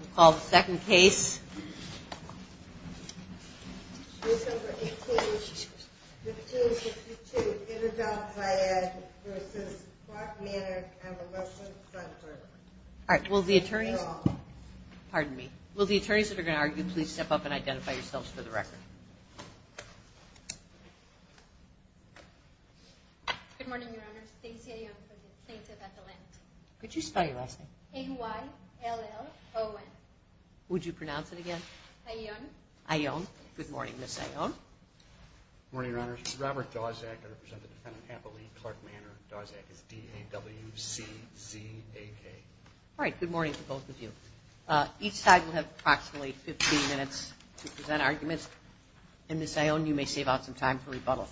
We'll call the second case. Case number 18-15-62 Interdome Hyad v. Clark Manor Convalescent Center. All right, will the attorneys... Pardon me. Will the attorneys that are going to argue please step up and identify yourselves for the record. Good morning, Your Honor. Stacy A. Young from the plaintiff at the Lent. Could you spell your last name? A-Y-L-L-O-N. Would you pronounce it again? A-Y-O-N. A-Y-O-N. Good morning, Ms. A-Y-O-N. Good morning, Your Honor. This is Robert Dozak. I represent the defendant at the Lee Clark Manor. Dozak is D-A-W-C-Z-A-K. All right, good morning to both of you. Each side will have approximately 15 minutes to present arguments. And Ms. A-Y-O-N, you may save out some time for rebuttal.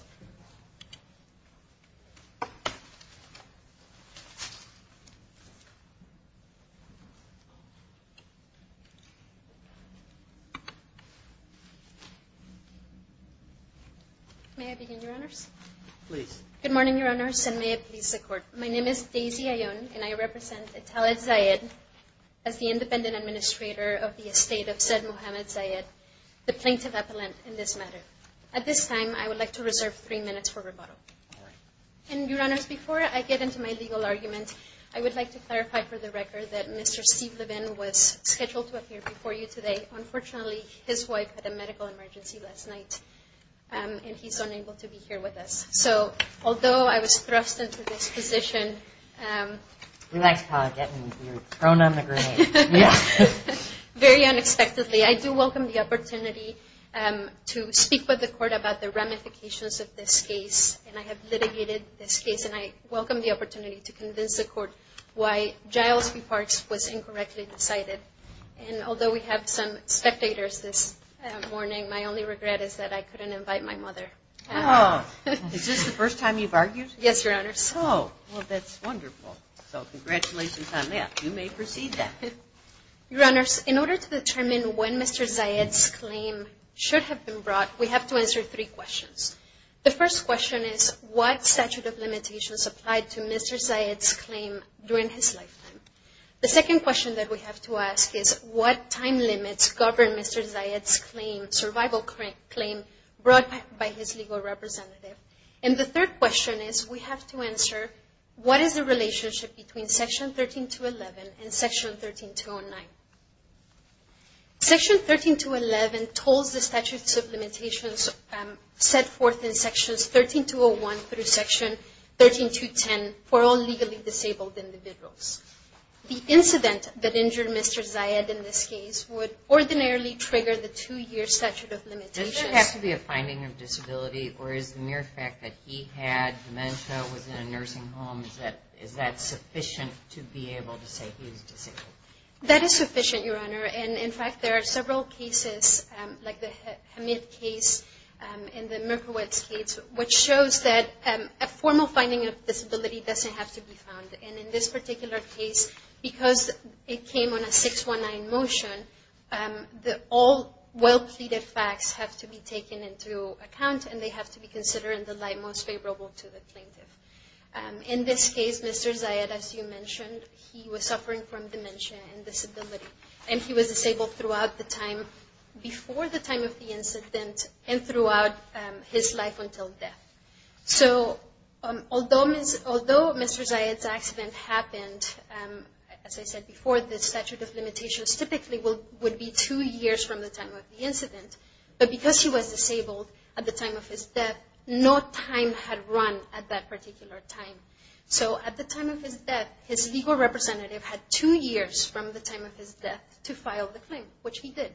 May I begin, Your Honors? Please. Good morning, Your Honors, and may it please the Court. My name is Daisy A-Y-O-N, and I represent Eteled Zayed as the Independent Administrator of the Estate of Said Mohammed Zayed, the Plaintiff at the Lent in this matter. You have three minutes for rebuttal. All right. And, Your Honors, before I get into my legal argument, I would like to clarify for the record that Mr. Steve Levin was scheduled to appear before you today. Unfortunately, his wife had a medical emergency last night, and he's unable to be here with us. So although I was thrust into this position… We like to call it getting you prone on the grenade. Very unexpectedly, I do welcome the opportunity to speak with the Court about the ramifications of this case. And I have litigated this case, and I welcome the opportunity to convince the Court why Giles B. Parks was incorrectly decided. And although we have some spectators this morning, my only regret is that I couldn't invite my mother. Is this the first time you've argued? Yes, Your Honors. Oh, well, that's wonderful. So congratulations on that. You may proceed, then. Your Honors, in order to determine when Mr. Zayid's claim should have been brought, we have to answer three questions. The first question is, what statute of limitations applied to Mr. Zayid's claim during his lifetime? The second question that we have to ask is, what time limits govern Mr. Zayid's claim, survival claim, brought by his legal representative? And the third question is, we have to answer, what is the relationship between Section 13211 and Section 13209? Section 13211 tolls the statutes of limitations set forth in Sections 13201 through Section 13210 for all legally disabled individuals. The incident that injured Mr. Zayid in this case would ordinarily trigger the two-year statute of limitations. Does there have to be a finding of disability, or is the mere fact that he had dementia, was in a nursing home, is that sufficient to be able to say he's disabled? That is sufficient, Your Honor. And, in fact, there are several cases, like the Hamid case and the Mirkowitz case, which shows that a formal finding of disability doesn't have to be found. And in this particular case, because it came on a 619 motion, all well-pleaded facts have to be taken into account, and they have to be considered in the light most favorable to the plaintiff. In this case, Mr. Zayid, as you mentioned, he was suffering from dementia and disability. And he was disabled throughout the time, before the time of the incident, and throughout his life until death. So, although Mr. Zayid's accident happened, as I said before, the statute of limitations typically would be two years from the time of the incident, but because he was disabled at the time of his death, no time had run at that particular time. So at the time of his death, his legal representative had two years from the time of his death to file the claim, which he did.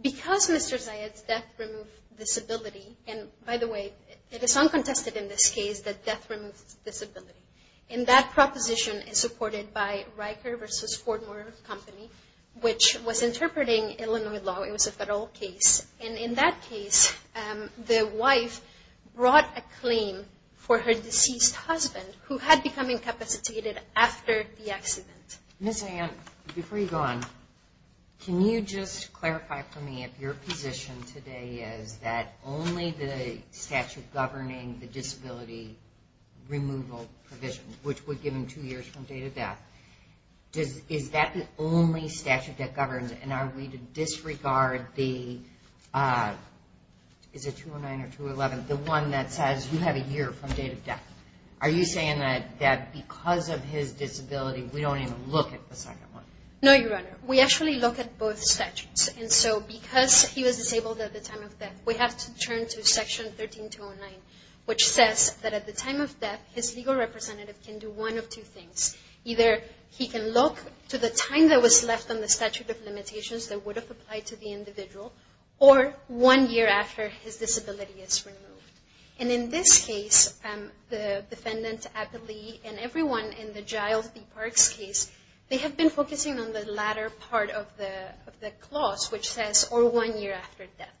Because Mr. Zayid's death removed disability, and by the way, it is uncontested in this case that death removes disability, and that proposition is supported by Riker v. Fortmore Company, which was interpreting Illinois law. It was a federal case. And in that case, the wife brought a claim for her deceased husband, who had become incapacitated after the accident. Ms. Ann, before you go on, can you just clarify for me if your position today is that only the statute governing the disability removal provision, which would give him two years from date of death, is that the only statute that governs? And are we to disregard the, is it 209 or 211, the one that says you have a year from date of death? Are you saying that because of his disability, we don't even look at the second one? No, Your Honor. We actually look at both statutes. And so because he was disabled at the time of death, we have to turn to Section 13209, which says that at the time of death, his legal representative can do one of two things. Either he can look to the time that was left on the statute of limitations that would have applied to the individual, or one year after his disability is removed. And in this case, the defendant, Applee, and everyone in the Giles B. Parks case, they have been focusing on the latter part of the clause, which says, or one year after death.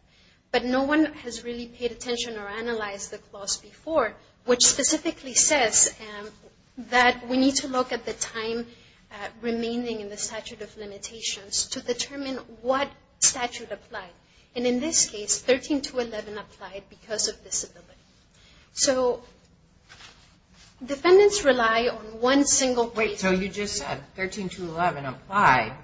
But no one has really paid attention or analyzed the clause before, which specifically says that we need to look at the time remaining in the statute of limitations to determine what statute applied. And in this case, 13211 applied because of disability. So defendants rely on one single way. Wait, so you just said 13211 applied,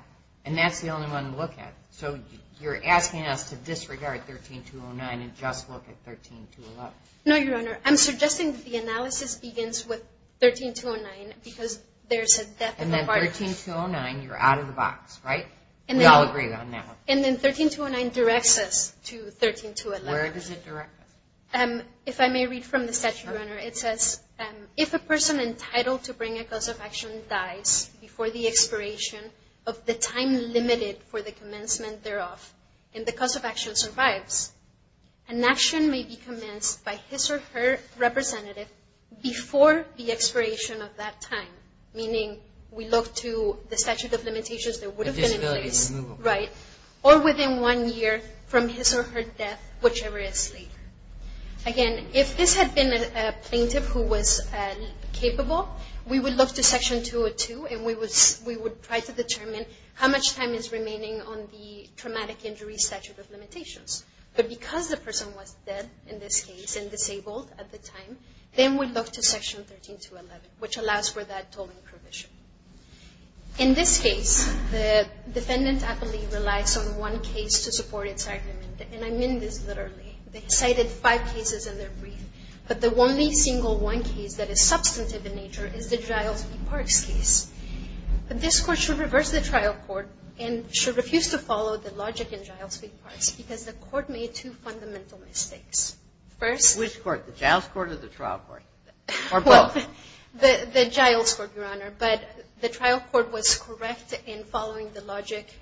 and that's the only one to look at. So you're asking us to disregard 13209 and just look at 13211. No, Your Honor. I'm suggesting the analysis begins with 13209 because there's a death in the park. And then 13209, you're out of the box, right? We all agree on that one. And then 13209 directs us to 13211. Where does it direct us? If I may read from the statute, Your Honor, it says, if a person entitled to bring a cause of action dies before the expiration of the time limited for the commencement thereof, and the cause of action survives, an action may be commenced by his or her representative before the expiration of that time, meaning we look to the statute of limitations that would have been in place, right, or within one year from his or her death, whichever is later. Again, if this had been a plaintiff who was capable, we would look to Section 202, and we would try to determine how much time is remaining on the traumatic injury statute of limitations. But because the person was dead in this case and disabled at the time, then we look to Section 13211, which allows for that tolling provision. In this case, the defendant, I believe, relies on one case to support its argument, and I mean this literally. They cited five cases in their brief, but the only single one case that is substantive in nature is the Giles v. Parks case. This Court should reverse the trial court and should refuse to follow the logic in Giles v. Parks because the Court made two fundamental mistakes. Which court, the Giles court or the trial court, or both? The Giles court, Your Honor. But the trial court was correct in following the logic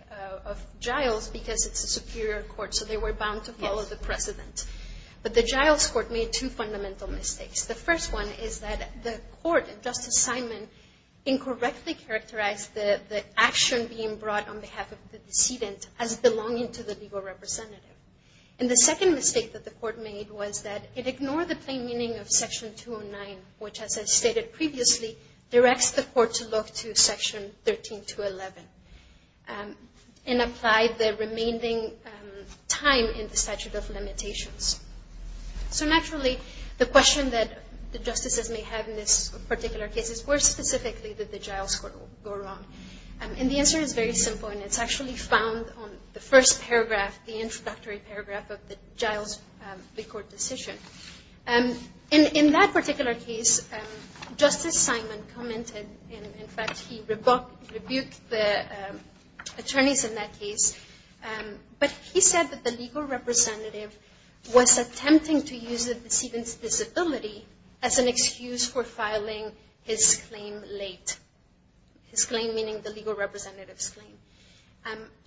of Giles because it's a superior court, so they were bound to follow the precedent. But the Giles court made two fundamental mistakes. The first one is that the court, Justice Simon, incorrectly characterized the action being brought on behalf of the decedent as belonging to the legal representative. And the second mistake that the court made was that it ignored the plain meaning of Section 209, which, as I stated previously, directs the court to look to Section 13211 and apply the remaining time in the statute of limitations. So naturally, the question that the justices may have in this particular case is, where specifically did the Giles court go wrong? And the answer is very simple, and it's actually found on the first paragraph, the introductory paragraph of the Giles court decision. In that particular case, Justice Simon commented, in fact, he rebuked the attorneys in that case, but he said that the legal representative was attempting to use the decedent's disability as an excuse for filing his claim late. His claim meaning the legal representative's claim.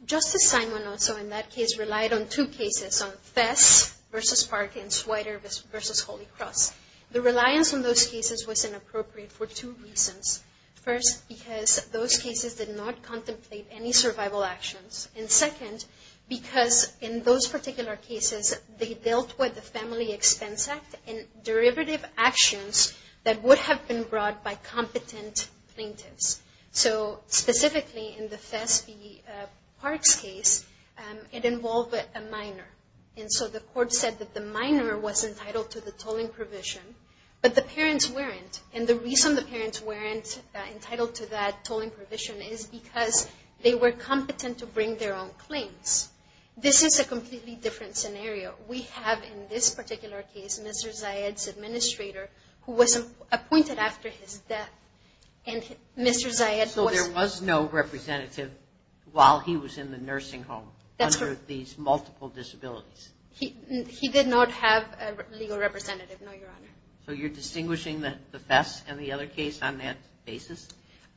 Justice Simon also, in that case, relied on two cases, on Fess v. Park and Swider v. Holy Cross. The reliance on those cases was inappropriate for two reasons. First, because those cases did not contemplate any survival actions. And second, because in those particular cases, they dealt with the Family Expense Act and derivative actions that would have been brought by competent plaintiffs. So specifically, in the Fess v. Park's case, it involved a minor. And so the court said that the minor was entitled to the tolling provision, but the parents weren't. And the reason the parents weren't entitled to that tolling provision is because they were competent to bring their own claims. This is a completely different scenario. We have, in this particular case, Mr. Zayed's administrator, who was appointed after his death. And Mr. Zayed was- So there was no representative while he was in the nursing home under these multiple disabilities? He did not have a legal representative, no, Your Honor. So you're distinguishing the Fess and the other case on that basis?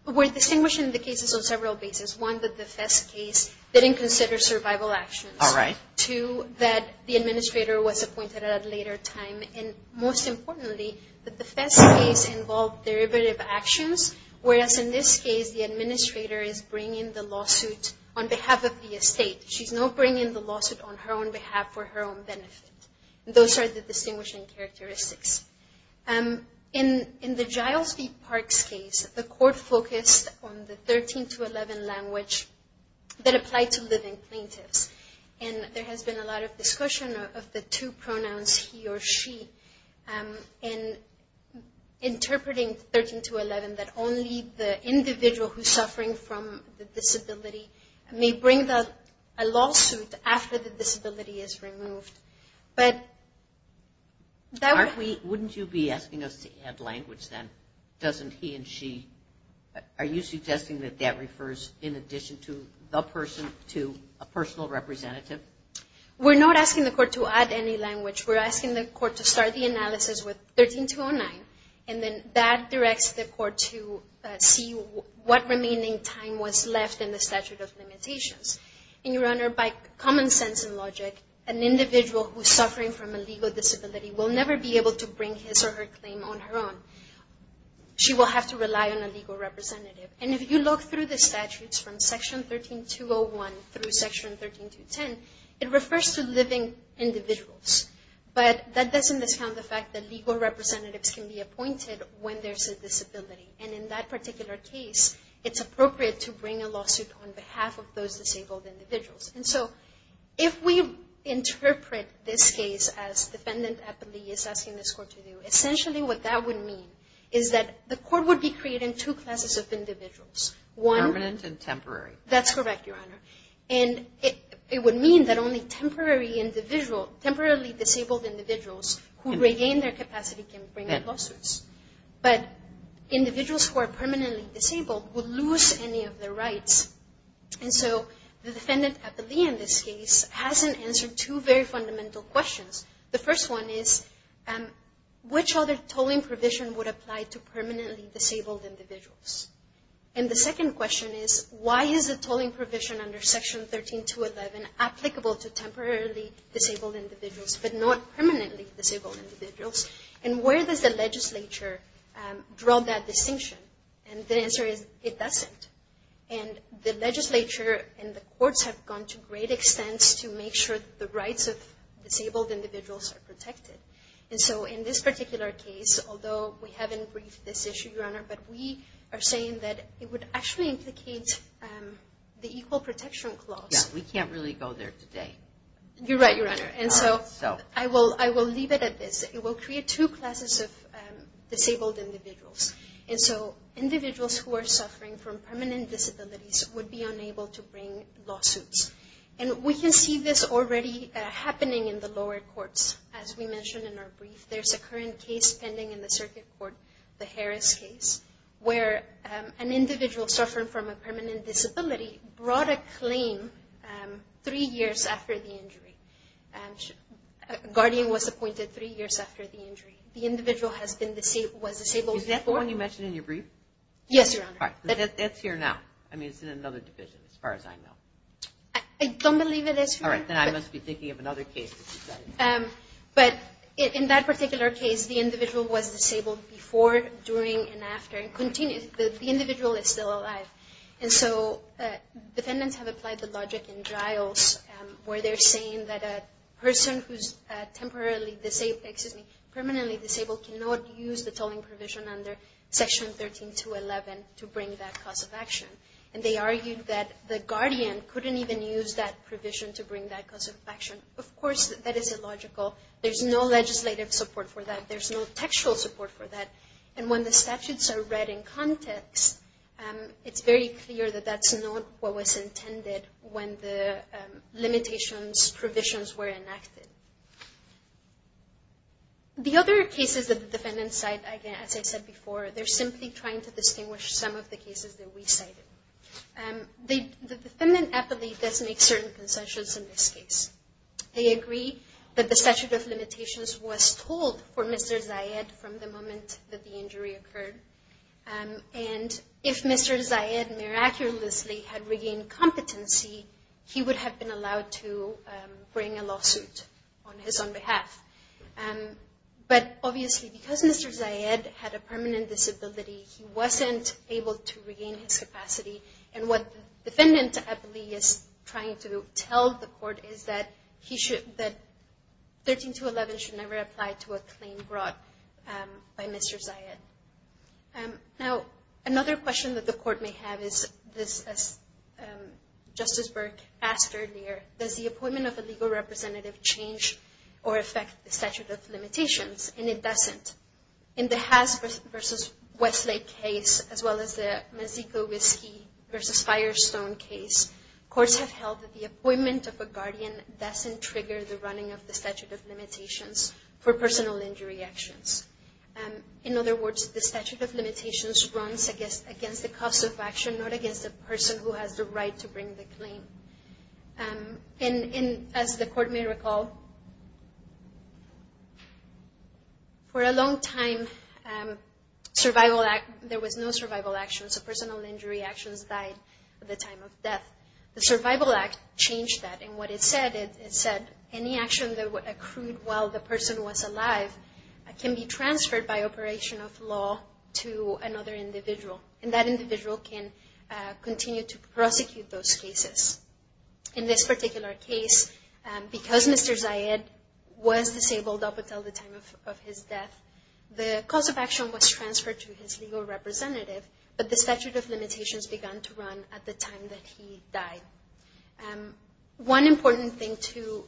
We're distinguishing the cases on several bases. One, that the Fess case didn't consider survival actions. All right. Two, that the administrator was appointed at a later time. And most importantly, that the Fess case involved derivative actions, whereas in this case, the administrator is bringing the lawsuit on behalf of the estate. She's not bringing the lawsuit on her own behalf for her own benefit. Those are the distinguishing characteristics. In the Giles v. Park's case, the court focused on the 13 to 11 language that applied to living plaintiffs. And there has been a lot of discussion of the two pronouns, he or she, and interpreting 13 to 11 that only the individual who's suffering from the disability may bring a lawsuit after the disability is removed. But that would- Wouldn't you be asking us to add language then? Doesn't he and she- Are you suggesting that that refers in addition to the person to a personal representative? We're not asking the court to add any language. We're asking the court to start the analysis with 13 to 09, and then that directs the court to see what remaining time was left in the statute of limitations. And, Your Honor, by common sense and logic, an individual who's suffering from a legal disability will never be able to bring his or her claim on her own. She will have to rely on a legal representative. And if you look through the statutes from Section 13201 through Section 13210, it refers to living individuals. But that doesn't discount the fact that legal representatives can be appointed when there's a disability. And in that particular case, it's appropriate to bring a lawsuit on behalf of those disabled individuals. And so if we interpret this case as defendant Eppley is asking this court to do, essentially what that would mean is that the court would be creating two classes of individuals. Permanent and temporary. That's correct, Your Honor. And it would mean that only temporarily disabled individuals who regain their capacity can bring lawsuits. But individuals who are permanently disabled will lose any of their rights. And so the defendant Eppley in this case hasn't answered two very fundamental questions. The first one is, which other tolling provision would apply to permanently disabled individuals? And the second question is, why is the tolling provision under Section 13211 applicable to temporarily disabled individuals but not permanently disabled individuals? And where does the legislature draw that distinction? And the answer is, it doesn't. And the legislature and the courts have gone to great extents to make sure that the rights of disabled individuals are protected. And so in this particular case, although we haven't briefed this issue, Your Honor, but we are saying that it would actually implicate the Equal Protection Clause. Yeah, we can't really go there today. You're right, Your Honor. And so I will leave it at this. It will create two classes of disabled individuals. And so individuals who are suffering from permanent disabilities would be unable to bring lawsuits. And we can see this already happening in the lower courts, as we mentioned in our brief. There's a current case pending in the circuit court, the Harris case, where an individual suffering from a permanent disability brought a claim three years after the injury. The individual was disabled. Is that the one you mentioned in your brief? Yes, Your Honor. That's here now. I mean, it's in another division, as far as I know. I don't believe it is here. All right. Then I must be thinking of another case. But in that particular case, the individual was disabled before, during, and after. The individual is still alive. And so defendants have applied the logic in trials, where they're saying that a person who's permanently disabled cannot use the tolling provision under Section 13211 to bring that cause of action. And they argued that the guardian couldn't even use that provision to bring that cause of action. Of course, that is illogical. There's no legislative support for that. There's no textual support for that. And when the statutes are read in context, it's very clear that that's not what was intended when the limitations provisions were enacted. The other cases that the defendants cite, again, as I said before, they're simply trying to distinguish some of the cases that we cited. The defendant aptly does make certain concessions in this case. They agree that the statute of limitations was told for Mr. Zayed from the moment that the injury occurred. And if Mr. Zayed miraculously had regained competency, he would have been allowed to bring a lawsuit on his own behalf. But obviously, because Mr. Zayed had a permanent disability, he wasn't able to regain his capacity. And what the defendant aptly is trying to tell the court is that 13211 should never apply to a claim brought by Mr. Zayed. Now, another question that the court may have is, as Justice Burke asked earlier, does the appointment of a legal representative change or affect the statute of limitations? And it doesn't. In the Haas v. Westlake case, as well as the Mexico Whiskey v. Firestone case, courts have held that the appointment of a guardian doesn't trigger the running of the statute of limitations for personal injury actions. In other words, the statute of limitations runs against the cost of action, not against the person who has the right to bring the claim. And as the court may recall, for a long time, there was no survival action. So personal injury actions died at the time of death. The Survival Act changed that. And what it said, it said any action that accrued while the person was alive can be transferred by operation of law to another individual. And that individual can continue to prosecute those cases. In this particular case, because Mr. Zayed was disabled up until the time of his death, the cost of action was transferred to his legal representative, but the statute of limitations began to run at the time that he died. One important thing to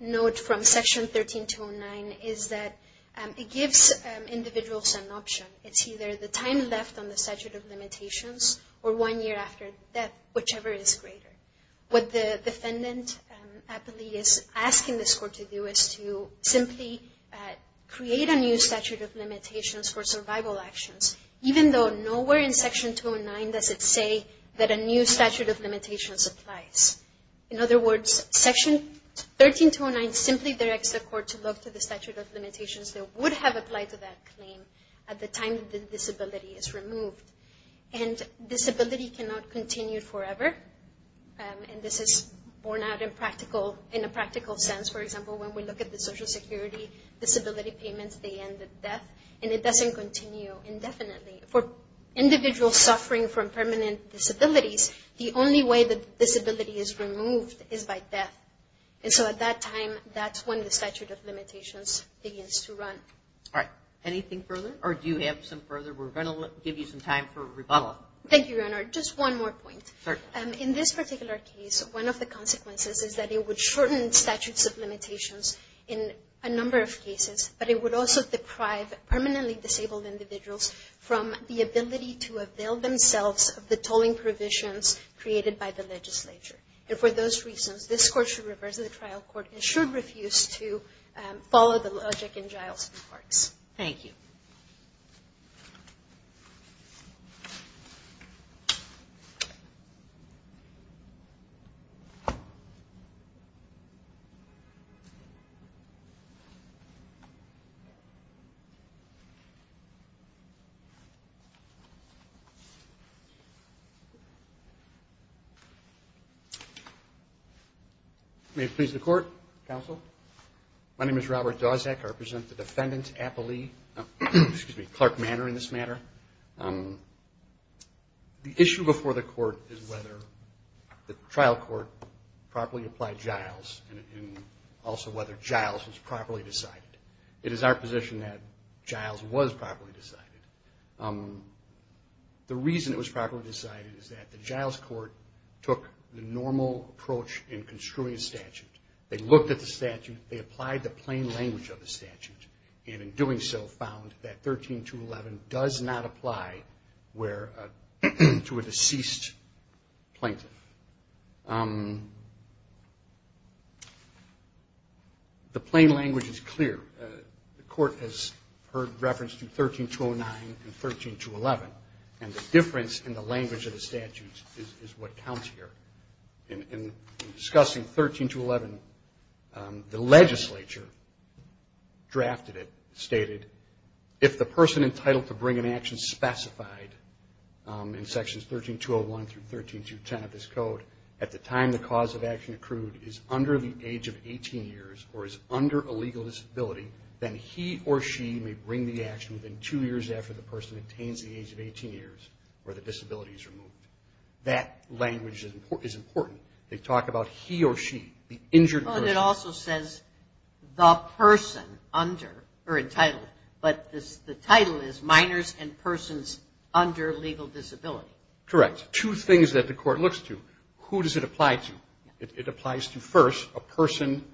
note from Section 13209 is that it gives individuals an option. It's either the time left on the statute of limitations or one year after death, whichever is greater. What the defendant is asking this court to do is to simply create a new statute of limitations for survival actions, even though nowhere in Section 209 does it say that a new statute of limitations applies. In other words, Section 13209 simply directs the court to look to the statute of limitations that would have applied to that claim at the time the disability is removed. And disability cannot continue forever. And this is borne out in a practical sense. For example, when we look at the Social Security disability payments, they end at death. And it doesn't continue indefinitely. For individuals suffering from permanent disabilities, the only way the disability is removed is by death. And so at that time, that's when the statute of limitations begins to run. All right. Anything further? Or do you have some further? We're going to give you some time for rebuttal. Thank you, Your Honor. Just one more point. Sure. In this particular case, one of the consequences is that it would shorten statutes of limitations in a number of cases, but it would also deprive permanently disabled individuals from the ability to avail themselves of the tolling provisions created by the legislature. And for those reasons, this Court should reverse the trial court and should refuse to follow the logic in Giles and Clark's. Thank you. May it please the Court. Counsel. My name is Robert Dozak. I represent the defendant, Clark Manor, in this matter. The issue before the court is whether the trial court properly applied Giles and also whether Giles was properly decided. It is our position that Giles was properly decided. The reason it was properly decided is that the Giles Court took the normal approach in construing a statute. They looked at the statute. They applied the plain language of the statute. And in doing so, found that 13211 does not apply to a deceased plaintiff. The plain language is clear. The court has heard reference to 13209 and 13211, and the difference in the language of the statute is what counts here. In discussing 13211, the legislature drafted it, stated, if the person entitled to bring an action specified in Sections 13201 through 13210 of this Code, at the time the cause of action accrued is under the age of 18 years or is under a legal disability, then he or she may bring the action within two years after the person attains the age of 18 years or the disability is removed. That language is important. They talk about he or she, the injured person. It also says the person under or entitled. But the title is minors and persons under legal disability. Correct. Two things that the court looks to. Who does it apply to? It applies to, first, a person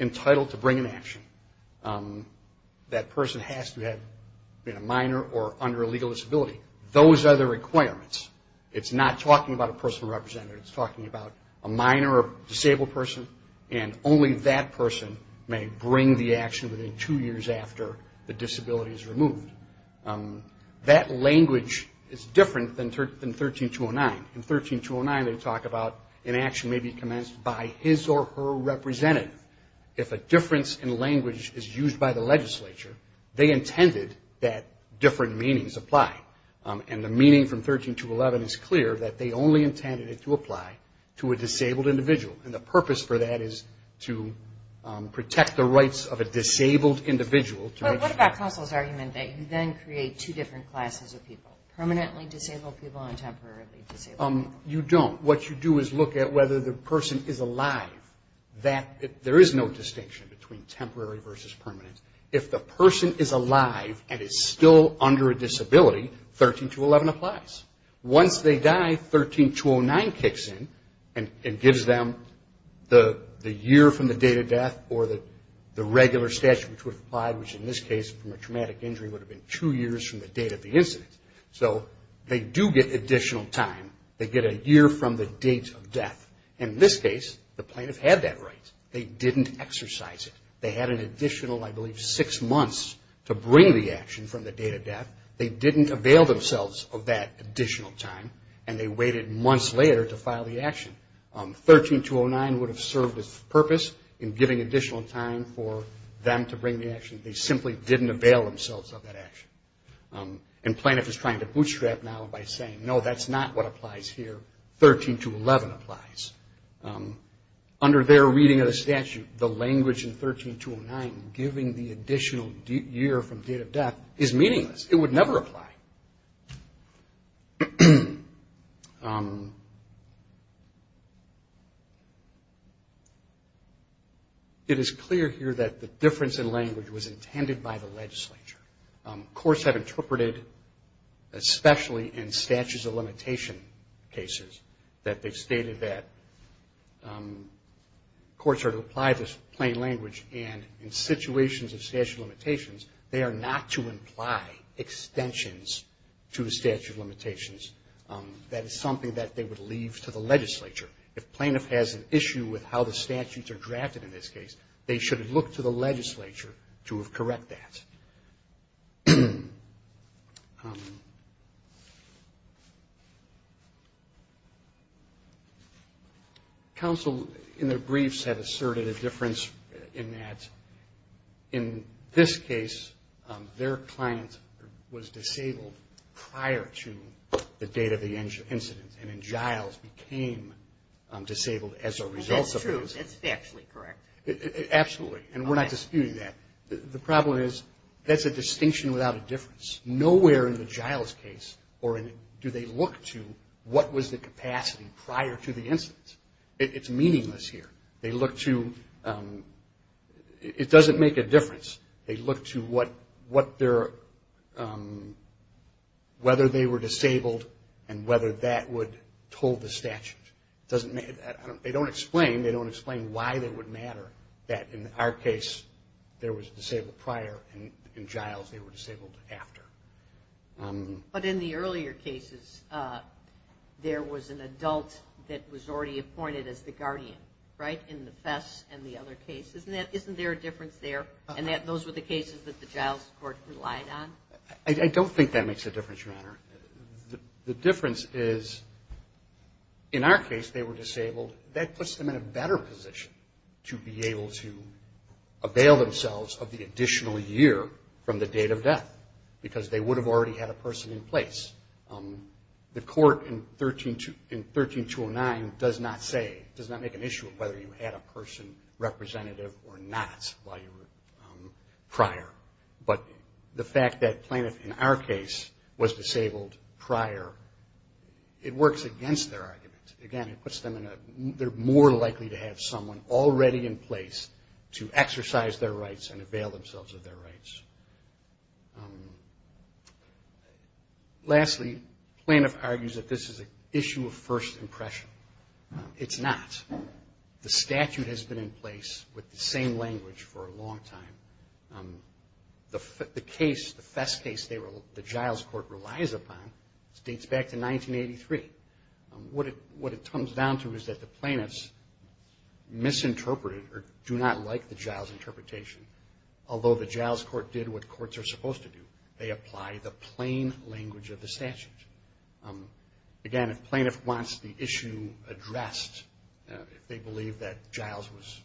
entitled to bring an action. That person has to have been a minor or under a legal disability. Those are the requirements. It's not talking about a personal representative. It's talking about a minor or disabled person, and only that person may bring the action within two years after the disability is removed. That language is different than 13209. In 13209, they talk about an action may be commenced by his or her representative. If a difference in language is used by the legislature, they intended that different meanings apply. And the meaning from 13211 is clear, that they only intended it to apply to a disabled individual. And the purpose for that is to protect the rights of a disabled individual. But what about Kossel's argument that you then create two different classes of people, permanently disabled people and temporarily disabled people? You don't. What you do is look at whether the person is alive. There is no distinction between temporary versus permanent. If the person is alive and is still under a disability, 13211 applies. Once they die, 13209 kicks in and gives them the year from the date of death or the regular statute which would apply, which in this case from a traumatic injury would have been two years from the date of the incident. So they do get additional time. They get a year from the date of death. In this case, the plaintiff had that right. They didn't exercise it. They had an additional, I believe, six months to bring the action from the date of death. They didn't avail themselves of that additional time. And they waited months later to file the action. 13209 would have served its purpose in giving additional time for them to bring the action. They simply didn't avail themselves of that action. And plaintiff is trying to bootstrap now by saying, no, that's not what applies here. 13211 applies. Under their reading of the statute, the language in 13209 giving the additional year from date of death is meaningless. It would never apply. It is clear here that the difference in language was intended by the legislature. Courts have interpreted, especially in statutes of limitation cases, that they stated that courts are to apply this plain language, and in situations of statute of limitations, they are not to imply extensions to the statute of limitations. That is something that they would leave to the legislature. If plaintiff has an issue with how the statutes are drafted in this case, they should look to the legislature to correct that. Counsel, in their briefs, have asserted a difference in that, in this case, their client was disabled prior to the date of the incident, and then Giles became disabled as a result of that. That's true. That's factually correct. Absolutely. And we're not disputing that. The problem is that's a distinction without a difference. Nowhere in the Giles case do they look to what was the capacity prior to the incident. It's meaningless here. It doesn't make a difference. They look to whether they were disabled and whether that would toll the statute. They don't explain why it would matter that, in our case, there was a disabled prior, and in Giles they were disabled after. But in the earlier cases, there was an adult that was already appointed as the guardian, right, in the Fess and the other cases. Isn't there a difference there in that those were the cases that the Giles court relied on? I don't think that makes a difference, Your Honor. The difference is, in our case, they were disabled. That puts them in a better position to be able to avail themselves of the additional year from the date of death because they would have already had a person in place. The court in 13-209 does not say, does not make an issue of whether you had a person representative or not while you were prior. But the fact that Plaintiff, in our case, was disabled prior, it works against their argument. Again, it puts them in a, they're more likely to have someone already in place to exercise their rights and avail themselves of their rights. Lastly, Plaintiff argues that this is an issue of first impression. It's not. The statute has been in place with the same language for a long time. The case, the Fess case, the Giles court relies upon dates back to 1983. What it comes down to is that the Plaintiffs misinterpreted or do not like the Giles interpretation, although the Giles court did what courts are supposed to do. They apply the plain language of the statute. Again, if Plaintiff wants the issue addressed, if they believe that Giles was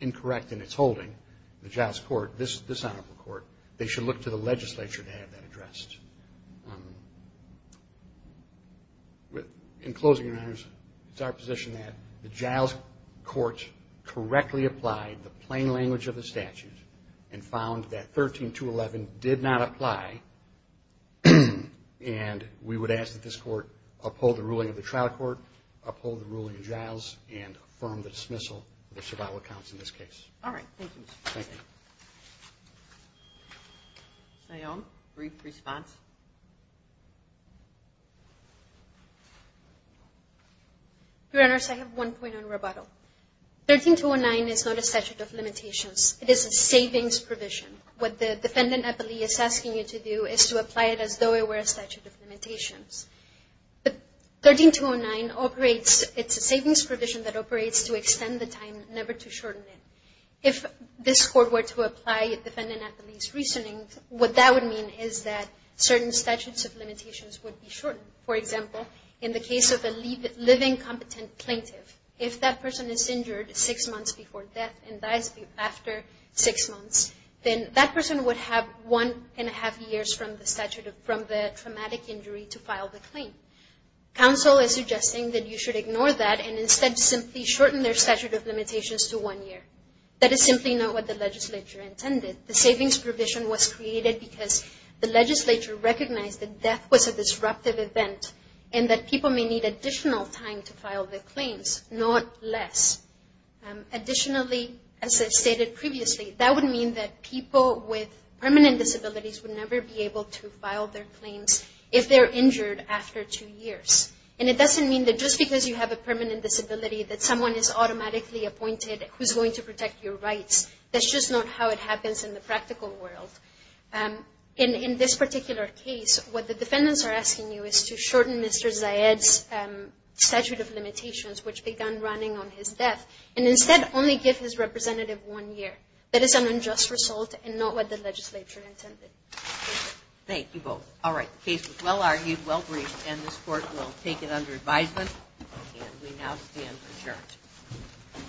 incorrect in its holding, the Giles court, this honorable court, they should look to the legislature to have that addressed. In closing, Your Honors, it's our position that the Giles court correctly applied the plain language of the statute and found that 13211 did not apply, and we would ask that this court uphold the ruling of the trial court, uphold the ruling of Giles, and affirm the dismissal of the survival accounts in this case. All right. Thank you, Mr. President. Sayon, brief response. Your Honors, I have one point on rebuttal. 13209 is not a statute of limitations. It is a savings provision. What the defendant appellee is asking you to do is to apply it as though it were a statute of limitations. But 13209 operates, it's a savings provision that operates to extend the time, never to shorten it. If this court were to apply the defendant appellee's reasoning, what that would mean is that certain statutes of limitations would be shortened. For example, in the case of a living, competent plaintiff, if that person is injured six months before death and dies after six months, then that person would have one and a half years from the traumatic injury to file the claim. Counsel is suggesting that you should ignore that and instead simply shorten their statute of limitations to one year. That is simply not what the legislature intended. The savings provision was created because the legislature recognized that death was a disruptive event and that people may need additional time to file their claims, not less. Additionally, as I stated previously, that would mean that people with permanent disabilities would never be able to file their claims if they're injured after two years. And it doesn't mean that just because you have a permanent disability that someone is automatically appointed who's going to protect your rights. That's just not how it happens in the practical world. In this particular case, what the defendants are asking you is to shorten Mr. Zayed's statute of limitations, which began running on his death, and instead only give his representative one year. That is an unjust result and not what the legislature intended. Thank you both. All right. The case was well-argued, well-briefed, and this Court will take it under advisement. And we now stand adjourned.